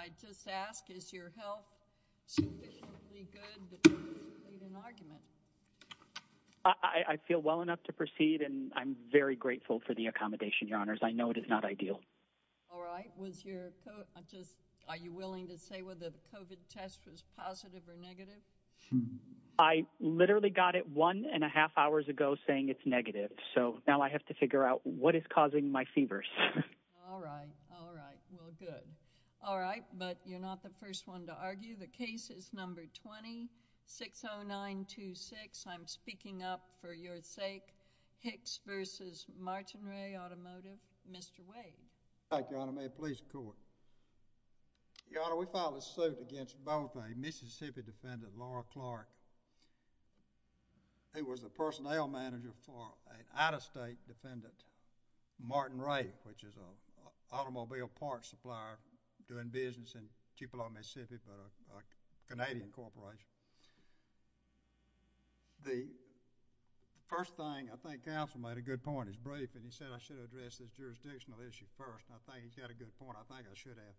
I just ask, is your health sufficiently good that you can make an argument? I feel well enough to proceed, and I'm very grateful for the accommodation, Your Honors. I know it is not ideal. All right. Was your... I'm just... Are you willing to say whether the COVID test was positive or negative? I literally got it one and a half hours ago saying it's negative, so now I have to figure out what is causing my fevers. All right. All right. Well, good. All right. But you're not the first one to argue. The case is number 260926. I'm speaking up for your sake. Hicks v. Martinrea Automotive. Mr. Wade. Thank you, Your Honor. May it please the Court. Your Honor, we file a suit against both a Mississippi defendant, Laura Clark, who was the personnel manager for an out-of-state defendant, Martinrea, which is an automobile parts supplier doing business in Chippewa, Mississippi, but a Canadian corporation. The first thing, I think counsel made a good point, his brief, and he said I should have addressed this jurisdictional issue first, and I think he's got a good point, I think I should have,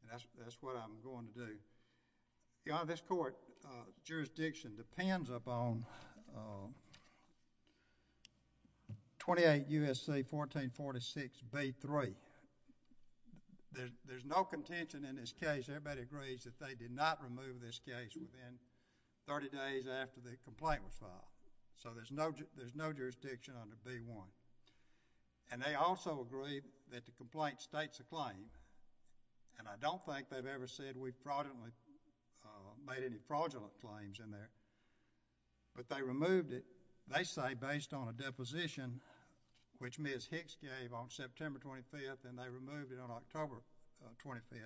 and that's what I'm going to do. Your Honor, this Court jurisdiction depends upon 28 U.S.C. 1446b3. There's no contention in this case. Everybody agrees that they did not remove this case within 30 days after the complaint was filed, so there's no jurisdiction under b1. And they also agree that the complaint states a claim, and I don't think they've ever said we fraudulently made any fraudulent claims in there, but they removed it, they say based on a deposition which Ms. Hicks gave on September 25th, and they removed it on October 25th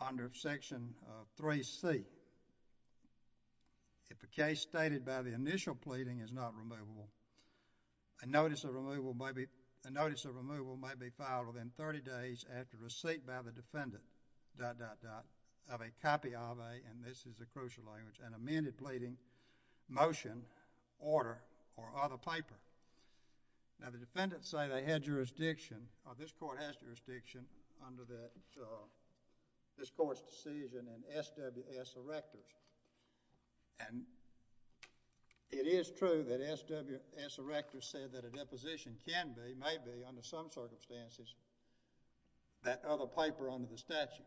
under section 3c. If the case stated by the initial pleading is not removable, a notice of removal may be filed within 30 days after receipt by the defendant, dot, dot, dot, of a copy of a, and this is a crucial language, an amended pleading, motion, order, or other paper. Now the defendants say they had jurisdiction, or this Court has jurisdiction under the, this Court's decision in SWS Erectors, and it is true that SWS Erectors said that a deposition can be, may be under some circumstances, that other paper under the statute.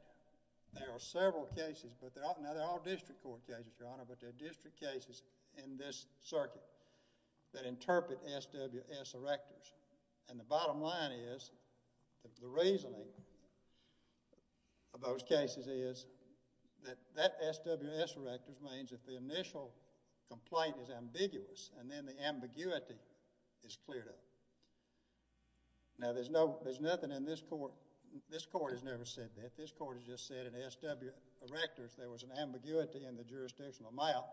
There are several cases, but they're all, now they're all district court cases, Your Honor, but they're district cases in this circuit that interpret SWS Erectors, and the bottom line is that the reasoning of those cases is that that SWS Erectors means that the initial complaint is ambiguous, and then the ambiguity is cleared up. Now there's no, there's nothing in this Court, this Court has never said that. This Court has just said in SWS Erectors there was an ambiguity in the jurisdictional amount,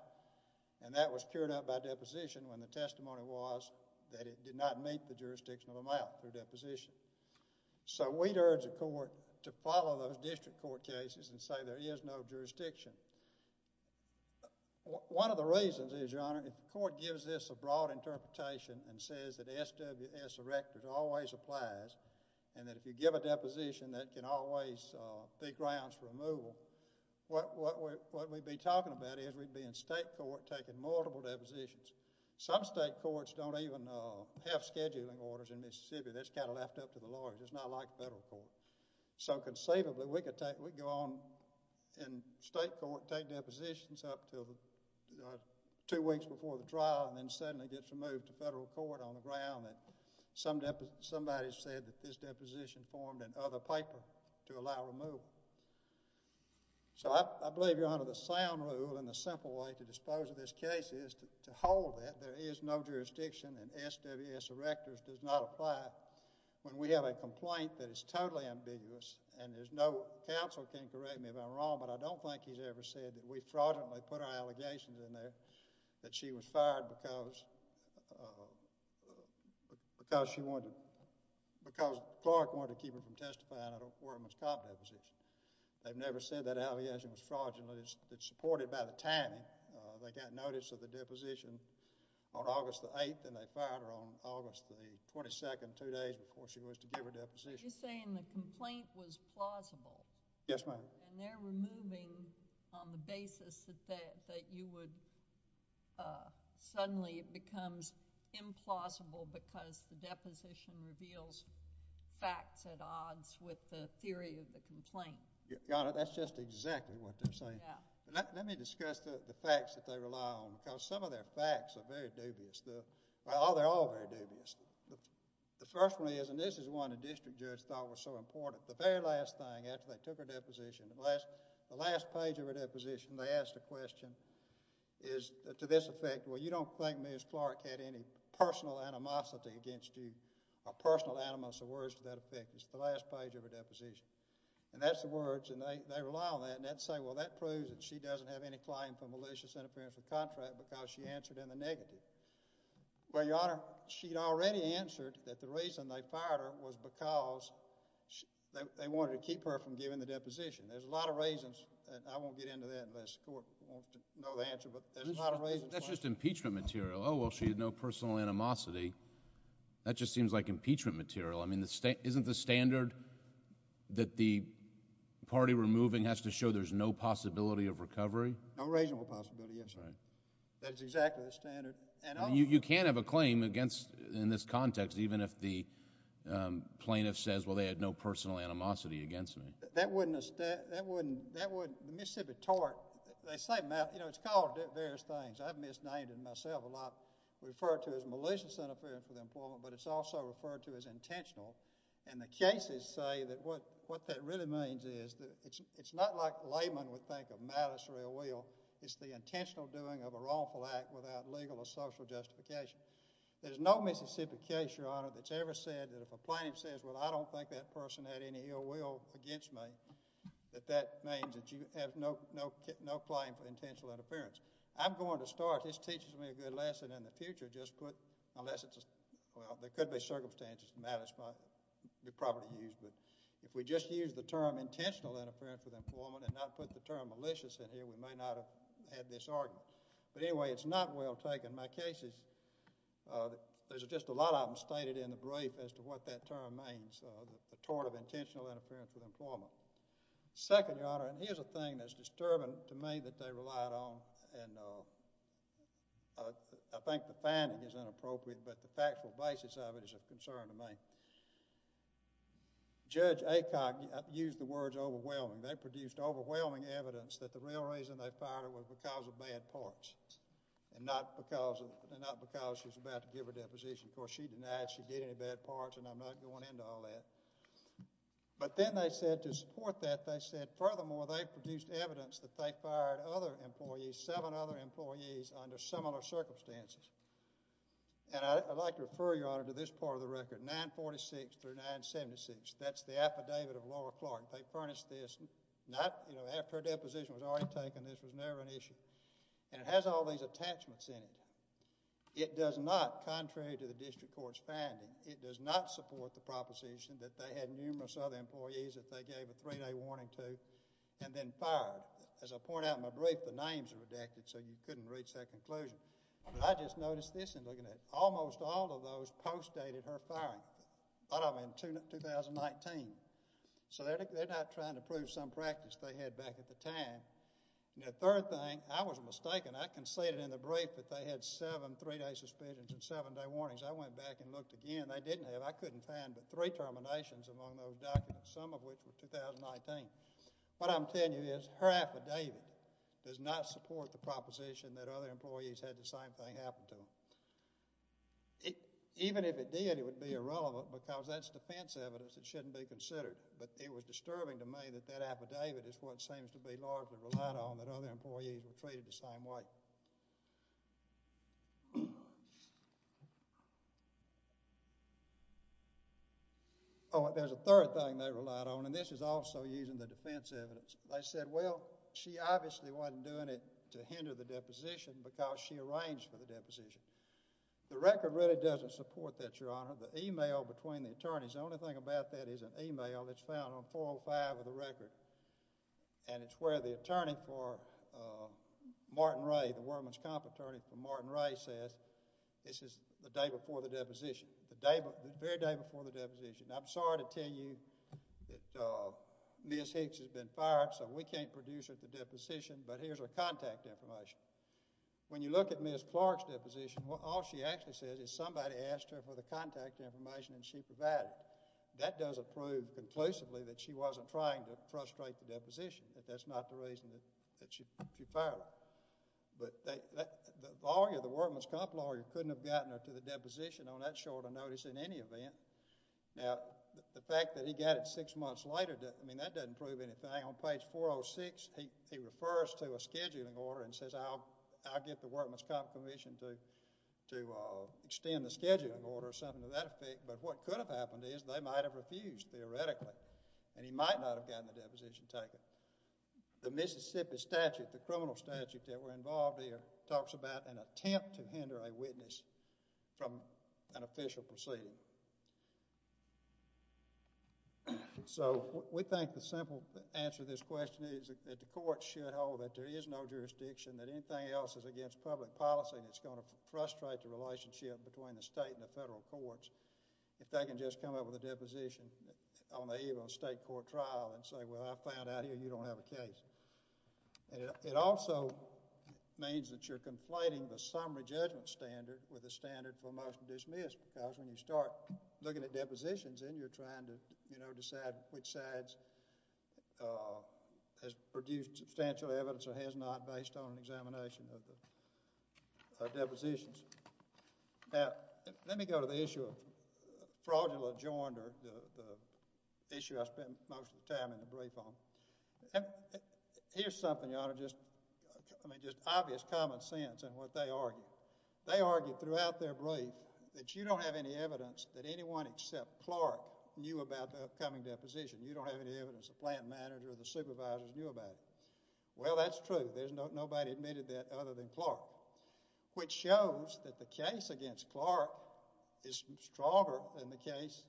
and that was cured up by deposition when the testimony was that it did not meet the jurisdictional amount through deposition. So we'd urge the Court to follow those district court cases and say there is no jurisdiction. One of the reasons is, Your Honor, the Court gives this a broad interpretation and says that SWS Erectors always applies, and that if you give a deposition that can always be grounds for removal, what we'd be talking about is we'd be in state court taking multiple depositions. Some state courts don't even have scheduling orders in this circuit. That's kind of left up to the lawyers. It's not like federal court. So conceivably, we could take, we could go on in state court, take depositions up to two weeks before the trial, and then suddenly it gets removed to federal court on the ground, and somebody said that this deposition formed in other paper to allow removal. So I believe, Your Honor, the sound rule and the simple way to dispose of this case is to hold that there is no jurisdiction and SWS Erectors does not apply when we have a complaint that is totally ambiguous, and there's no, counsel can correct me if I'm wrong, but I don't think he's ever said that we fraudulently put our allegations in there that she was fired because, because she wanted, because the clerk wanted to keep her from testifying at a foreman's cop deposition. They've never said that allegation was fraudulently, it's supported by the timing. They got notice of the deposition on August the 8th, and they fired her on August the 22nd, two days before she was to give her deposition. You're saying the complaint was plausible? Yes, ma'am. And they're removing on the basis that you would, suddenly it becomes implausible because the deposition reveals facts at odds with the theory of the complaint. Your Honor, that's just exactly what they're saying. Yeah. Let me discuss the facts that they rely on, because some of their facts are very dubious. Well, they're all very dubious. The first one is, and this is one the district judge thought was so important, the very last thing after they took her deposition, the last page of her deposition, they asked a question, is to this effect, well, you don't think Ms. Clark had any personal animosity against you, or personal animosity, words to that effect. It's the last page of her deposition, and that's the words, and they rely on that, and I'd say, well, that proves that she doesn't have any claim for malicious interference with contract because she answered in the negative. Well, Your Honor, she'd already answered that the reason they fired her was because they wanted to keep her from giving the deposition. There's a lot of reasons, and I won't get into that unless the court wants to know the answer, but there's a lot of reasons. That's just impeachment material. Oh, well, she had no personal animosity. That just seems like impeachment material. I mean, isn't the standard that the party removing has to show there's no possibility of recovery? No reasonable possibility, yes, Your Honor. That's exactly the standard. And you can't have a claim against, in this context, even if the plaintiff says, well, they had no personal animosity against me. That wouldn't, that wouldn't, that wouldn't, the Mississippi tort, they say, you know, it's called various things. I've misnamed it myself a lot, referred to as malicious interference with employment, but it's also referred to as intentional, and the cases say that what, what that really means is that it's, it's not like layman would think of malice or ill will. It's the intentional doing of a wrongful act without legal or social justification. There's no Mississippi case, Your Honor, that's ever said that if a plaintiff says, well, I don't think that person had any ill will against me, that that means that you have no, no, no claim for intentional interference. I'm going to start, this teaches me a good lesson in the future, just put, unless it's well, there could be circumstances, matters might be properly used, but if we just use the term intentional interference with employment and not put the term malicious in here, we may not have had this argument. But anyway, it's not well taken. My cases, there's just a lot of them stated in the brief as to what that term means, the tort of intentional interference with employment. Second, Your Honor, and here's a thing that's disturbing to me that they relied on, and I think the finding is inappropriate, but the factual basis of it is a concern to me. Judge Acock used the words overwhelming. They produced overwhelming evidence that the real reason they fired her was because of bad parts and not because she was about to give her deposition. Of course, she denied she did any bad parts, and I'm not going into all that. But then they said to support that, they said, furthermore, they produced evidence that they under similar circumstances. And I'd like to refer, Your Honor, to this part of the record, 946 through 976. That's the affidavit of Laura Clark. They furnished this, not, you know, after her deposition was already taken, this was never an issue. And it has all these attachments in it. It does not, contrary to the district court's finding, it does not support the proposition that they had numerous other employees that they gave a three-day warning to and then fired. As I point out in my brief, the names are redacted, so you couldn't reach that conclusion. But I just noticed this in looking at it. Almost all of those postdated her firing. A lot of them in 2019. So they're not trying to prove some practice they had back at the time. And the third thing, I was mistaken. I conceded in the brief that they had seven three-day suspensions and seven-day warnings. I went back and looked again. They didn't have, I couldn't find, but three terminations among those documents, some of which were 2019. What I'm telling you is her affidavit does not support the proposition that other employees had the same thing happen to them. Even if it did, it would be irrelevant because that's defense evidence. It shouldn't be considered. But it was disturbing to me that that affidavit is what seems to be largely relied on, that other employees were treated the same way. Oh, there's a third thing they relied on, and this is also using the defense evidence. They said, well, she obviously wasn't doing it to hinder the deposition because she arranged for the deposition. The record really doesn't support that, Your Honor. The email between the attorneys, the only thing about that is an email that's found on 405 of the record. And it's where the attorney for Martin Ray, the woman's comp attorney for Martin Ray says, this is the day before the deposition, the day, the very day before the deposition. I'm sorry to tell you that Ms. Hicks has been fired, so we can't produce her for deposition, but here's her contact information. When you look at Ms. Clark's deposition, all she actually says is somebody asked her for the contact information and she provided it. That does prove conclusively that she wasn't trying to frustrate the deposition, that that's not the reason that she fired her. But the lawyer, the workman's comp lawyer couldn't have gotten her to the deposition on that short of notice in any event. Now, the fact that he got it six months later, I mean, that doesn't prove anything. On page 406, he refers to a scheduling order and says, I'll get the workman's comp commission to extend the scheduling order or something to that effect. But what could have happened is they might have refused, theoretically, and he might not have gotten the deposition taken. The Mississippi statute, the criminal statute that were involved there talks about an attempt to hinder a witness from an official proceeding. So we think the simple answer to this question is that the court should hold that there is no jurisdiction, that anything else is against public policy and it's going to frustrate the relationship between the state and the federal courts if they can just come up with a deposition on the eve of a state court trial and say, well, I found out here you don't have a case. And it also means that you're conflating the summary judgment standard with a standard for a motion to dismiss because when you start looking at depositions, then you're trying to, you know, decide which side has produced substantial evidence or has not based on an examination of the depositions. Now, let me go to the issue of fraudulent rejoinder, the issue I spend most of the time in the brief on. Here's something, Your Honor, just, I mean, just obvious common sense in what they argue. They argue throughout their brief that you don't have any evidence that anyone except Clark knew about the upcoming deposition. You don't have any evidence the plant manager or the supervisors knew about it. Well, that's true. Nobody admitted that other than Clark, which shows that the case against Clark is stronger than the case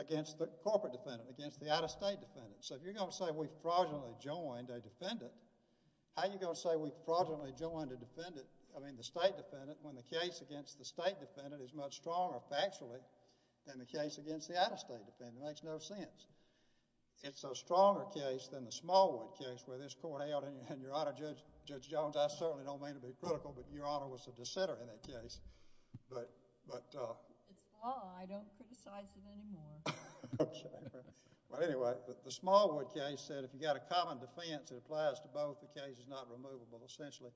against the corporate defendant, against the out-of-state defendant. So if you're going to say we fraudulently joined a defendant, how are you going to say we fraudulently joined a defendant, I mean the state defendant, when the case against the state defendant is much stronger factually than the case against the out-of-state defendant? It makes no sense. It's a stronger case than the Smallwood case where this court held, and Your Honor, Judge Jones, I certainly don't mean to be critical, but Your Honor was a dissenter in that case, but. It's law. I don't criticize it anymore. Well, anyway, but the Smallwood case said if you got a common defense that applies to both, the case is not removable essentially.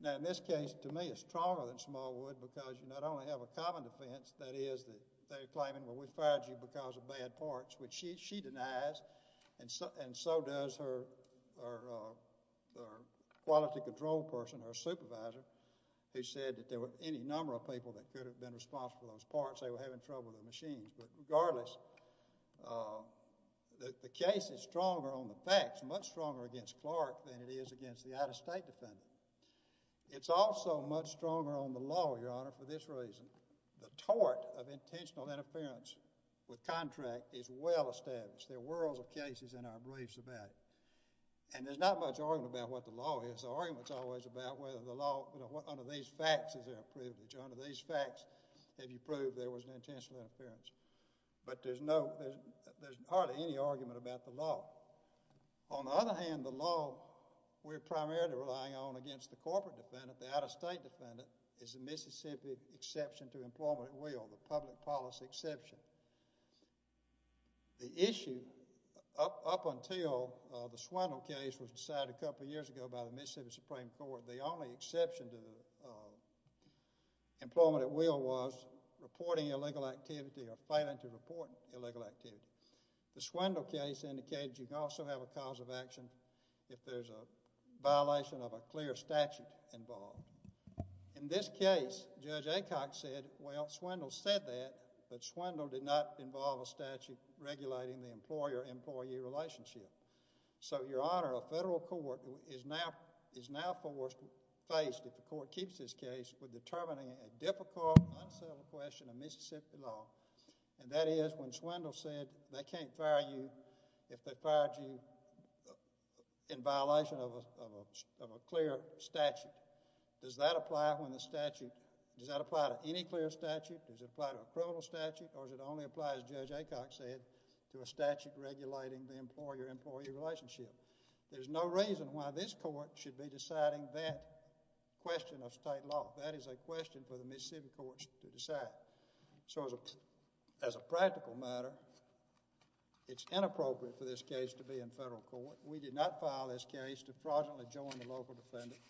Now, in this case, to me, it's stronger than Smallwood because you not only have a common defense, that is that they're claiming, well, we fired you because of bad parts, which she denies, and so does her quality control person, her supervisor, who said that there were any number of people that could have been responsible for those parts. They were having trouble with the machines. But regardless, the case is stronger on the facts, much stronger against Clark than it is against the out-of-state defendant. It's also much stronger on the law, Your Honor, for this reason. The tort of intentional interference with contract is well-established. There are worlds of cases in our beliefs about it. And there's not much argument about what the law is. The argument is always about whether the law, under these facts, is there a privilege. Under these facts, have you proved there was an intentional interference? But there's hardly any argument about the law. On the other hand, the law we're primarily relying on against the corporate defendant, the out-of-state defendant, is the Mississippi exception to employment at will, the public policy exception. The issue, up until the Swindle case was decided a couple of years ago by the Mississippi Supreme Court, the only exception to employment at will was reporting illegal activity or failing to report illegal activity. The Swindle case indicated you could also have a cause of action if there's a violation of a clear statute involved. In this case, Judge Acock said, well, Swindle said that, but Swindle did not involve a statute regulating the employer-employee relationship. So, Your Honor, a federal court is now forced to face, if the court keeps this case, for determining a difficult, unsettled question of Mississippi law, and that is when Swindle said they can't fire you if they fired you in violation of a clear statute. Does that apply to any clear statute? Does it apply to a criminal statute? Or does it only apply, as Judge Acock said, to a statute regulating the employer-employee relationship? There's no reason why this court should be deciding that question of state law. That is a question for the Mississippi courts to decide. So, as a practical matter, it's inappropriate for this case to be in federal court. We did not file this case to fraudulently join the local defendant.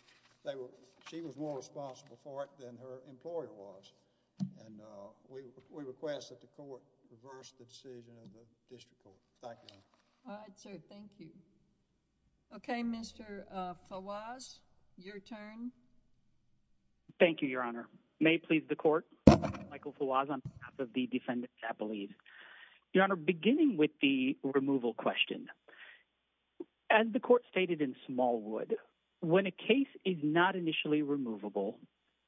She was more responsible for it than her employer was, and we request that the court reverse the decision of the district court. Thank you, Your Honor. All right, sir. Thank you. Okay, Mr. Falwaz, your turn. Thank you, Your Honor. May it please the court, Michael Falwaz on behalf of the defendant, I believe. Your Honor, beginning with the removal question, as the court stated in Smallwood, when a case is not initially removable,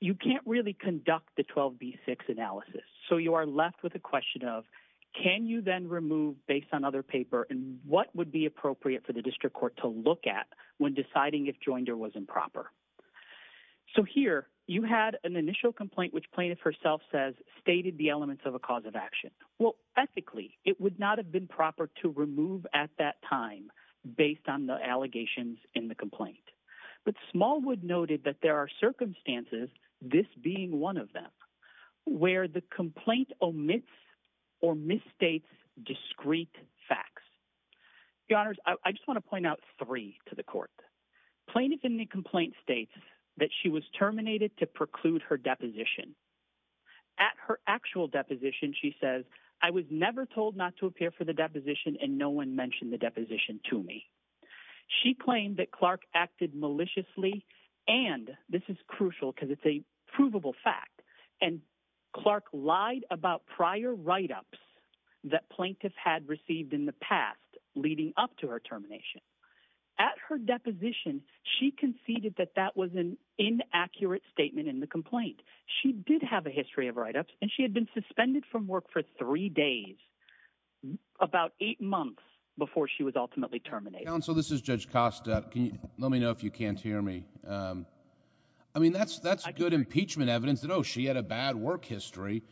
you can't really conduct the 12B6 analysis. So you are left with a question of, can you then remove based on other paper, and what would be appropriate for the district court to look at when deciding if Joinder was improper? So here, you had an initial complaint, which plaintiff herself says stated the elements of a cause of action. Well, ethically, it would not have been proper to remove at that time based on the allegations in the complaint. But Smallwood noted that there are circumstances, this being one of them, where the complaint omits or misstates discrete facts. Plaintiff in the complaint states that she was terminated to preclude her deposition. At her actual deposition, she says, I was never told not to appear for the deposition, and no one mentioned the deposition to me. She claimed that Clark acted maliciously, and this is crucial because it's a provable fact, and Clark lied about prior write-ups that plaintiff had received in the past leading up to her termination. At her deposition, she conceded that that was an inaccurate statement in the complaint. She did have a history of write-ups, and she had been suspended from work for three days, about eight months before she was ultimately terminated. Counsel, this is Judge Costa. Can you let me know if you can't hear me? I mean, that's good impeachment evidence that, oh, she had a bad work history.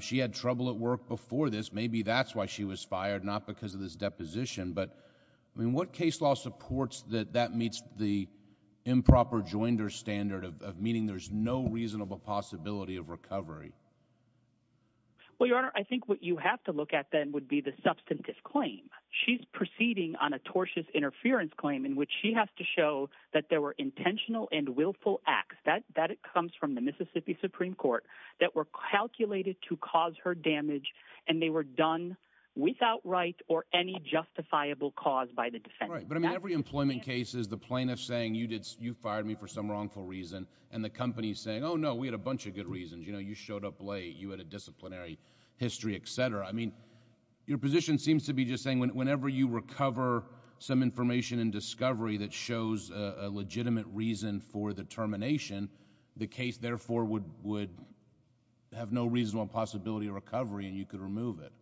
She had trouble at work before this. Maybe that's why she was fired, not because of this deposition. But, I mean, what case law supports that that meets the improper joinder standard of meaning there's no reasonable possibility of recovery? Well, Your Honor, I think what you have to look at then would be the substantive claim. She's proceeding on a tortious interference claim in which she has to show that there were intentional and willful acts. That comes from the Mississippi Supreme Court that were calculated to cause her damage, and they were done without right or any justifiable cause by the defense. All right. But, I mean, every employment case is the plaintiff saying, you fired me for some wrongful reason, and the company's saying, oh, no, we had a bunch of good reasons. You know, you showed up late. You had a disciplinary history, et cetera. I mean, your position seems to be just saying whenever you recover some information and discovery that shows a legitimate reason for the termination, the case, therefore, would have no reasonable possibility of recovery, and you could remove it.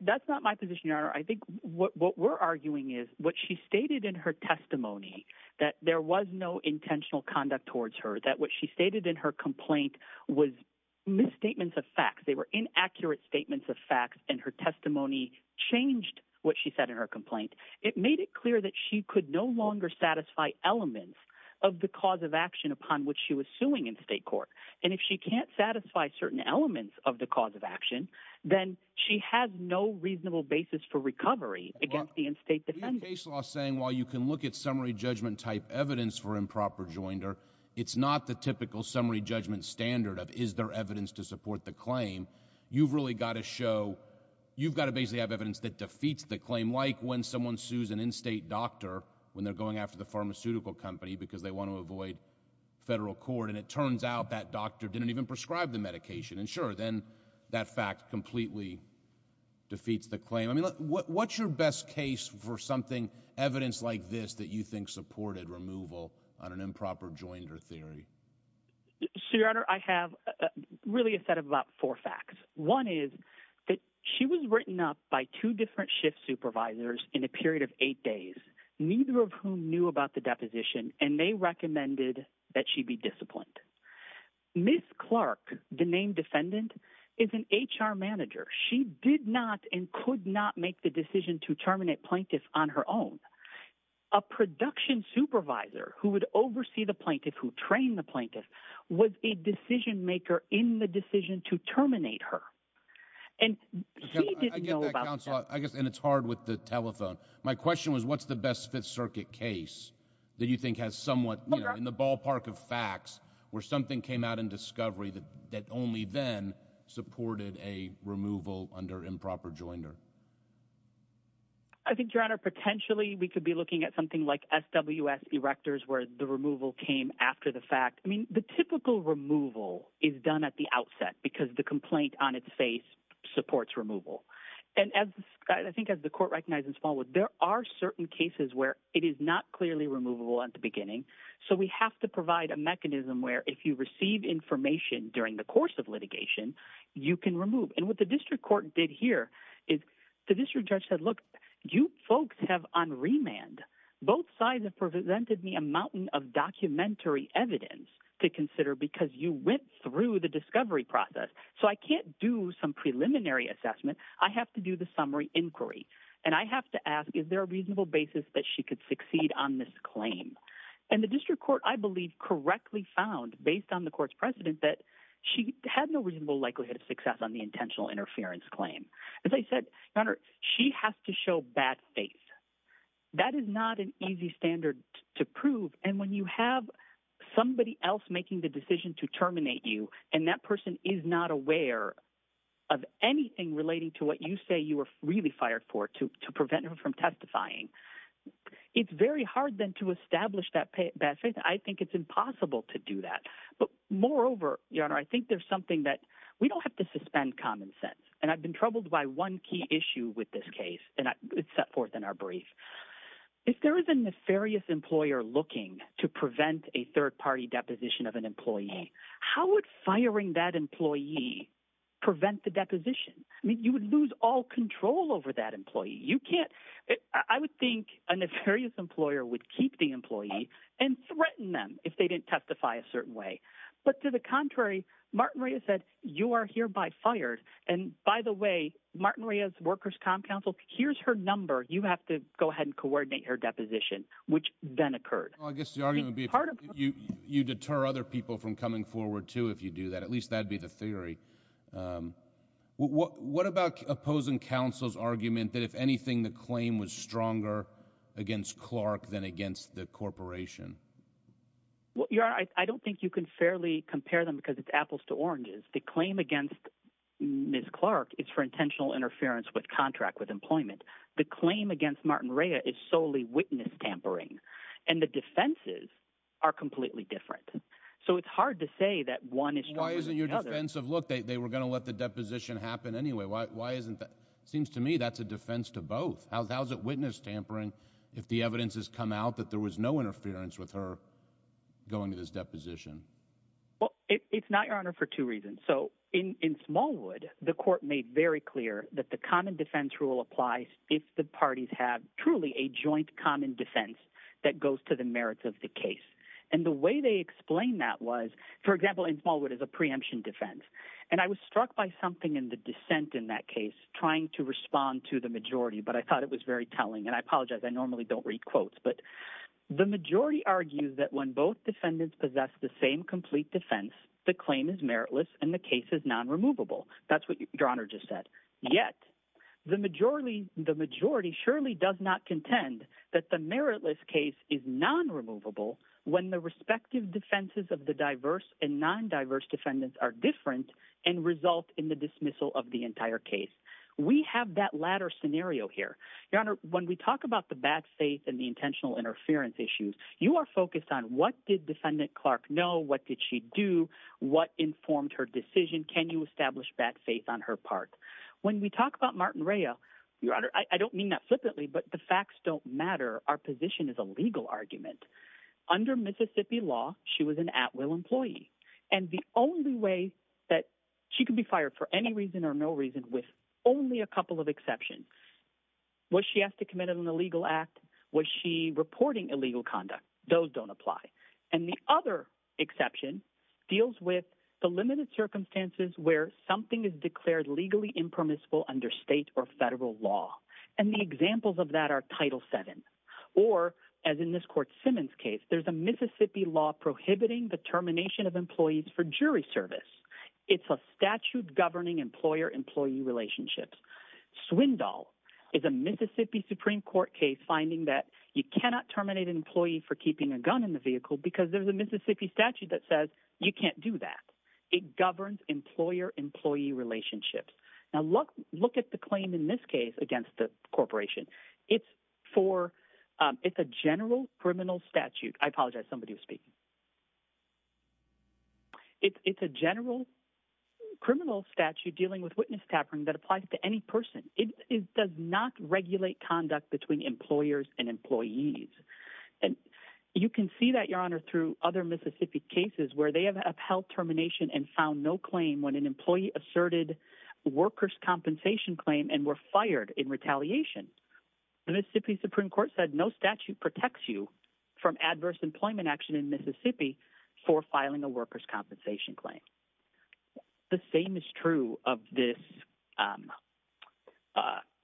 That's not my position, Your Honor. I think what we're arguing is what she stated in her testimony, that there was no intentional conduct towards her, that what she stated in her complaint was misstatements of facts. They were inaccurate statements of facts, and her testimony changed what she said in her complaint. It made it clear that she could no longer satisfy elements of the cause of action upon which she was suing in state court, and if she can't satisfy certain elements of the cause of action, then she has no reasonable basis for recovery against the in-state defendant. Your case law is saying while you can look at summary judgment type evidence for improper joinder, it's not the typical summary judgment standard of is there evidence to support the claim. You've really got to show, you've got to basically have evidence that defeats the claim, like when someone sues an in-state doctor when they're going after the pharmaceutical company because they want to avoid federal court, and it turns out that doctor didn't even prescribe the medication, and sure, then that fact completely defeats the claim. I mean, what's your best case for something, evidence like this, that you think supported removal on an improper joinder theory? So, Your Honor, I have really a set of about four facts. One is that she was written up by two different shift supervisors in a period of eight days, neither of whom knew about the deposition, and they recommended that she be disciplined. Ms. Clark, the named defendant, is an HR manager. She did not and could not make the decision to terminate plaintiffs on her own. A production supervisor who would oversee the plaintiff, who trained the plaintiff, was a decision maker in the decision to terminate her, and he didn't know about that. I guess, and it's hard with the telephone. My question was, what's the best Fifth Circuit case that you think has somewhat, you know, in the ballpark of facts where something came out in discovery that only then supported a removal under improper joinder? I think, Your Honor, potentially we could be looking at something like SWS erectors where the removal came after the fact. I mean, the typical removal is done at the outset because the complaint on its face supports removal. And I think, as the court recognized in Smallwood, there are certain cases where it is not clearly removable at the beginning, so we have to provide a mechanism where if you receive information during the course of litigation, you can remove. And what the district court did here is the district judge said, look, you folks have on remand. Both sides have presented me a mountain of documentary evidence to consider because you went through the discovery process. So I can't do some preliminary assessment. I have to do the summary inquiry. And I have to ask, is there a reasonable basis that she could succeed on this claim? And the district court, I believe, correctly found, based on the court's precedent, that she had no reasonable likelihood of success on the intentional interference claim. As I said, Your Honor, she has to show bad faith. That is not an easy standard to prove. And when you have somebody else making the decision to terminate you and that person is not aware of anything relating to what you say you were really fired for to prevent her from testifying, it's very hard then to establish that bad faith. I think it's impossible to do that. But moreover, Your Honor, I think there's something that we don't have to suspend common sense. And I've been troubled by one key issue with this case, and it's set forth in our brief. If there is a nefarious employer looking to prevent a third-party deposition of an employee, how would firing that employee prevent the deposition? I mean, you would lose all control over that employee. You can't—I would think a nefarious employer would keep the employee and threaten them if they didn't testify a certain way. But to the contrary, Martin Reyes said, you are hereby fired. And by the way, Martin Reyes, Workers' Com Council, here's her number. You have to go ahead and coordinate her deposition, which then occurred. I guess the argument would be you deter other people from coming forward, too, if you do that. At least that'd be the theory. What about opposing counsel's argument that if anything, the claim was stronger against Clark than against the corporation? Well, Your Honor, I don't think you can fairly compare them because it's apples to oranges. The claim against Ms. Clark is for intentional interference with contract with employment. The claim against Martin Reyes is solely witness tampering. And the defenses are completely different. So it's hard to say that one is stronger than the other. Why isn't your defense of, look, they were going to let the deposition happen anyway. Why isn't that—seems to me that's a defense to both. How's it witness tampering if the evidence has come out that there was no interference with her going to this deposition? Well, it's not, Your Honor, for two reasons. So in Smallwood, the court made very clear that the common defense rule applies if the that goes to the merits of the case. And the way they explained that was, for example, in Smallwood is a preemption defense. And I was struck by something in the dissent in that case, trying to respond to the majority, but I thought it was very telling. And I apologize. I normally don't read quotes. But the majority argues that when both defendants possess the same complete defense, the claim is meritless and the case is non-removable. That's what Your Honor just said. Yet the majority surely does not contend that the meritless case is non-removable when the respective defenses of the diverse and non-diverse defendants are different and result in the dismissal of the entire case. We have that latter scenario here. Your Honor, when we talk about the bad faith and the intentional interference issues, you are focused on what did Defendant Clark know? What did she do? What informed her decision? Can you establish bad faith on her part? When we talk about Martin Rea, Your Honor, I don't mean that flippantly, but the facts don't matter. Our position is a legal argument. Under Mississippi law, she was an at-will employee. And the only way that she could be fired for any reason or no reason, with only a couple of exceptions, was she asked to commit an illegal act? Was she reporting illegal conduct? Those don't apply. And the other exception deals with the limited circumstances where something is declared legally impermissible under state or federal law. And the examples of that are Title VII. Or, as in this Court Simmons case, there's a Mississippi law prohibiting the termination of employees for jury service. It's a statute governing employer-employee relationships. Swindoll is a Mississippi Supreme Court case finding that you cannot terminate an employee for keeping a gun in the vehicle because there's a Mississippi statute that says you can't do that. It governs employer-employee relationships. Now, look at the claim in this case against the corporation. It's a general criminal statute. I apologize, somebody was speaking. It's a general criminal statute dealing with witness tapering that applies to any person. It does not regulate conduct between employers and employees. And you can see that, Your Honor, through other Mississippi cases where they have held termination and found no claim when an employee asserted worker's compensation claim and were fired in retaliation, the Mississippi Supreme Court said no statute protects you from adverse employment action in Mississippi for filing a worker's compensation claim. The same is true of this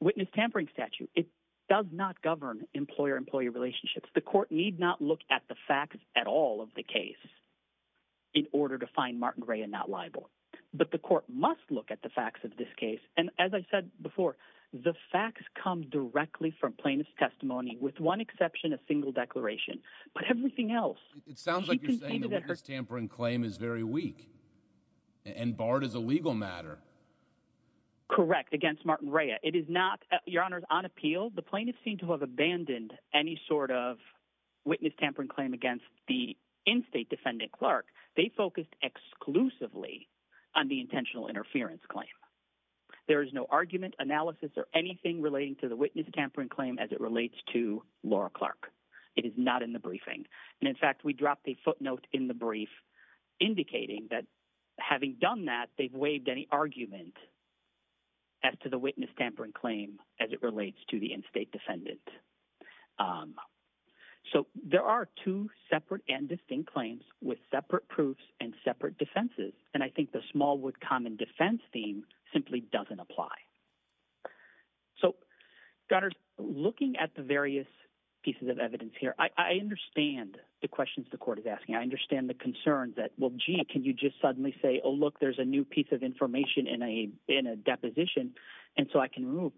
witness tampering statute. It does not govern employer-employee relationships. The court need not look at the facts at all of the case in order to find Martin Rea not liable. But the court must look at the facts of this case. And as I said before, the facts come directly from plaintiff's testimony with one exception of single declaration. But everything else... It sounds like you're saying the witness tampering claim is very weak and barred as a legal matter. Correct, against Martin Rea. It is not, Your Honor, on appeal. The plaintiffs seem to have abandoned any sort of witness tampering claim against the in-state defendant, Clark. They focused exclusively on the intentional interference claim. There is no argument, analysis, or anything relating to the witness tampering claim as it relates to Laura Clark. It is not in the briefing. And in fact, we dropped a footnote in the brief indicating that having done that, they've So there are two separate and distinct claims with separate proofs and separate defenses. And I think the small wood common defense theme simply doesn't apply. So, Your Honor, looking at the various pieces of evidence here, I understand the questions the court is asking. I understand the concern that, well, gee, can you just suddenly say, oh, look, there's a new piece of information in a deposition. And so I can remove...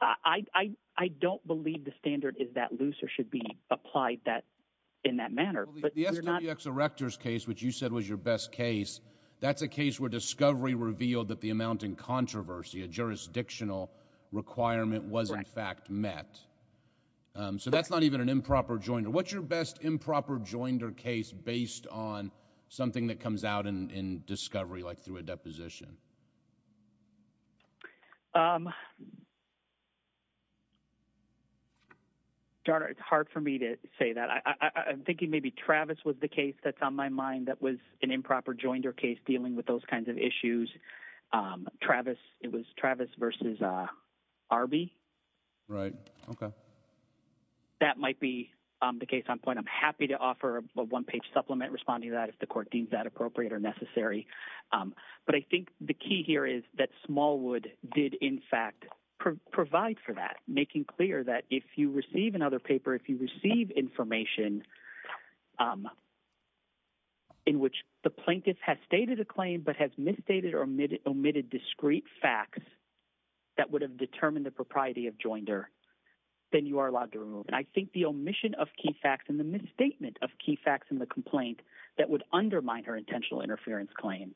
I don't believe the standard is that loose or should be applied in that manner. Well, the SWX Erector's case, which you said was your best case, that's a case where discovery revealed that the amount in controversy, a jurisdictional requirement was in fact met. So that's not even an improper joinder. What's your best improper joinder case based on something that comes out in discovery, like through a deposition? Your Honor, it's hard for me to say that. I'm thinking maybe Travis was the case that's on my mind that was an improper joinder case dealing with those kinds of issues. Travis, it was Travis versus Arby. Right. Okay. That might be the case on point. I'm happy to offer a one-page supplement responding to that if the court deems that appropriate or necessary. But I think the key here is that Smallwood did in fact provide for that, making clear that if you receive another paper, if you receive information in which the plaintiff has stated a claim but has misstated or omitted discrete facts that would have determined the propriety of joinder, then you are allowed to remove. And I think the omission of key facts and the misstatement of key facts in the complaint that would undermine her intentional interference claim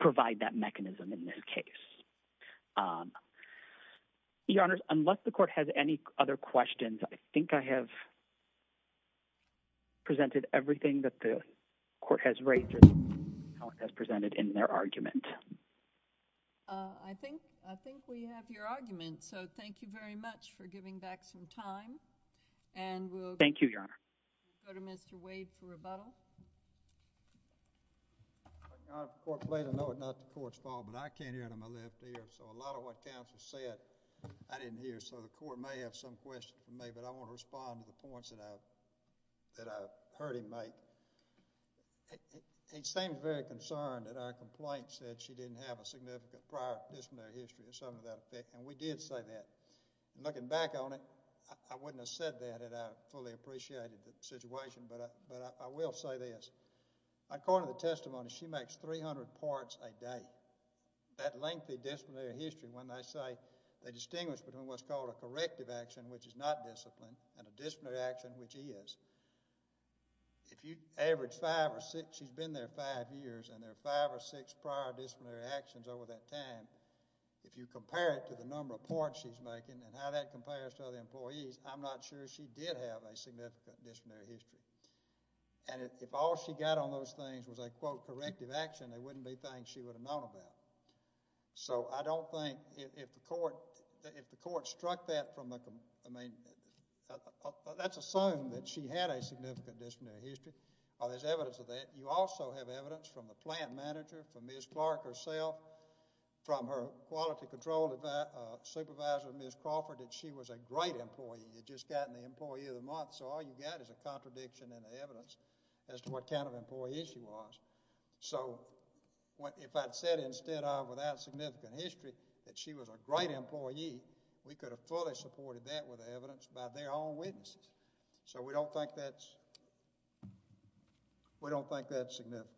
provide that mechanism in this case. Your Honor, unless the court has any other questions, I think I have presented everything that the court has raised or has presented in their argument. I think we have your argument. So thank you very much for giving back some time. Thank you, Your Honor. Mr. Butler? Your Honor, the court played to know it, not the court's fault. But I can't hear it in my left ear. So a lot of what counsel said, I didn't hear. So the court may have some questions for me. But I want to respond to the points that I heard him make. He seemed very concerned that our complaint said she didn't have a significant prior disciplinary history or something of that effect. And we did say that. Looking back on it, I wouldn't have said that had I fully appreciated the situation. But I will say this. According to the testimony, she makes 300 parts a day. That lengthy disciplinary history, when they say they distinguish between what's called a corrective action, which is not discipline, and a disciplinary action, which is. If you average five or six, she's been there five years. And there are five or six prior disciplinary actions over that time. If you compare it to the number of parts she's making and how that compares to other employees, I'm not sure she did have a significant disciplinary history. And if all she got on those things was a, quote, corrective action, there wouldn't be things she would have known about. So I don't think, if the court struck that from the, I mean, let's assume that she had a significant disciplinary history. Or there's evidence of that. You also have evidence from the plant manager, from Ms. Clark herself, from her quality control supervisor, Ms. Crawford, that she was a great employee. You just got an employee of the month. So all you got is a contradiction in the evidence as to what kind of employee she was. So if I'd said instead of without significant history that she was a great employee, we could have fully supported that with evidence by their own witnesses. So we don't think that's, we don't think that's significant.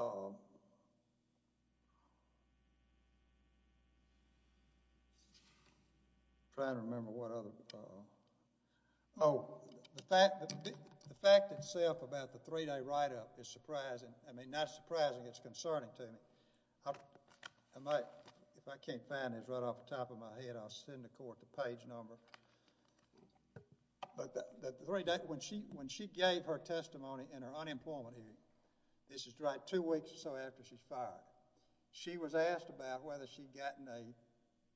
I'm trying to remember what other, oh, the fact itself about the three-day write-up is surprising. I mean, not surprising, it's concerning to me. If I can't find it, it's right off the top of my head, I'll send the court the page number. But the three-day, when she gave her testimony in her unemployment hearing, this is right two weeks or so after she's fired, she was asked about whether she'd gotten a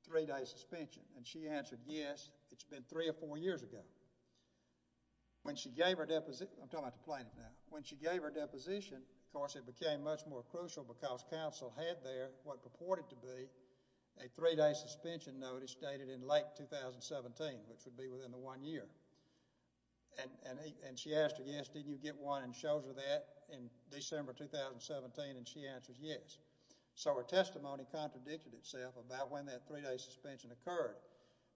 three-day suspension. And she answered, yes, it's been three or four years ago. When she gave her deposition, I'm talking about the plaintiff now. When she gave her deposition, of course, it became much more crucial because counsel had there what purported to be a three-day suspension notice dated in late 2017, which would be within the one year. And she asked her, yes, did you get one and shows her that in December 2017? And she answered, yes. So her testimony contradicted itself about when that three-day suspension occurred.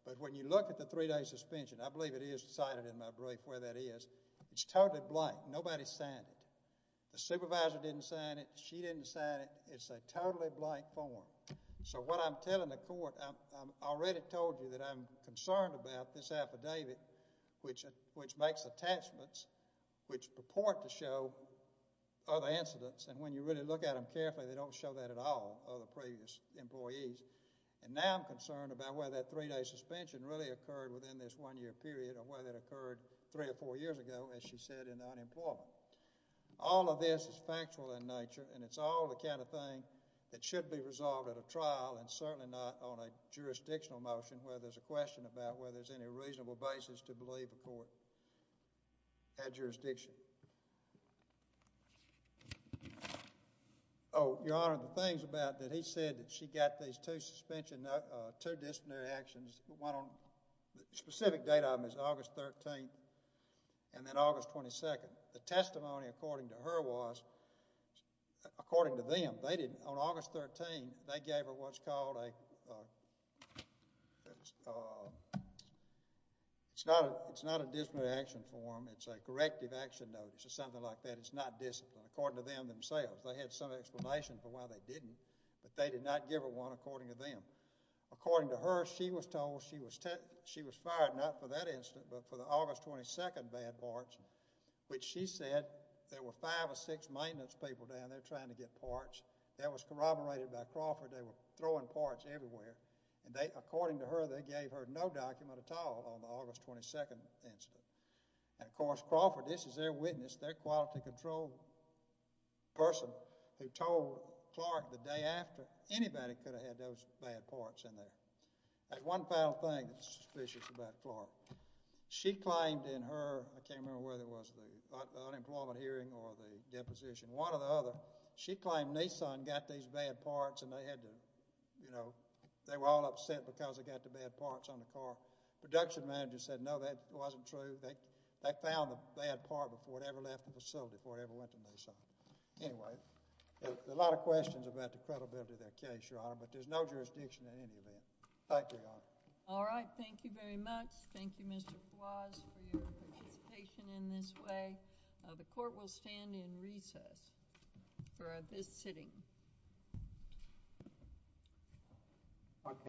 But when you look at the three-day suspension, I believe it is cited in my brief where that is, it's totally blank. Nobody signed it. The supervisor didn't sign it, she didn't sign it. It's a totally blank form. So what I'm telling the court, I already told you that I'm concerned about this affidavit which makes attachments which purport to show other incidents. And when you really look at them carefully, they don't show that at all, other previous employees. And now I'm concerned about whether that three-day suspension really occurred within this one-year period or whether it occurred three or four years ago, as she said, in the unemployment. All of this is factual in nature and it's all the kind of thing that should be resolved at a trial and certainly not on a jurisdictional motion where there's a question about whether there's any reasonable basis to believe a court had jurisdiction. Oh, Your Honor, the things about that, he said that she got these two suspension, two disciplinary actions, one on the specific date of them is August 13th and then August 22nd. The testimony according to her was, according to them, on August 13th, they gave her what's called a, it's not a disciplinary action form. It's a corrective action notice or something like that. It's not disciplinary, according to them themselves. They had some explanation for why they didn't, but they did not give her one according to them. According to her, she was told she was fired, not for that incident, but for the August 22nd bad parts, which she said there were five or six maintenance people down there trying to get parts. That was corroborated by Crawford. They were throwing parts everywhere and they, according to her, they gave her no document at all on the August 22nd incident. And of course, Crawford, this is their witness, their quality control person who told Clark the day after, anybody could have had those bad parts in there. There's one final thing that's suspicious about Clark. She claimed in her, I can't remember whether it was the, like the unemployment hearing or the deposition, one or the other, she claimed Nissan got these bad parts and they had to, you know, they were all upset because they got the bad parts on the car. Production manager said, no, that wasn't true. They found the bad part before it ever left the facility, before it ever went to Nissan. Anyway, there's a lot of questions about the credibility of that case, Your Honor, but there's no jurisdiction in any of that. Thank you, Your Honor. JUSTICE GILBERT All right. Thank you very much. Thank you, Mr. Flores, for your participation in this way. The court will stand in recess for this sitting.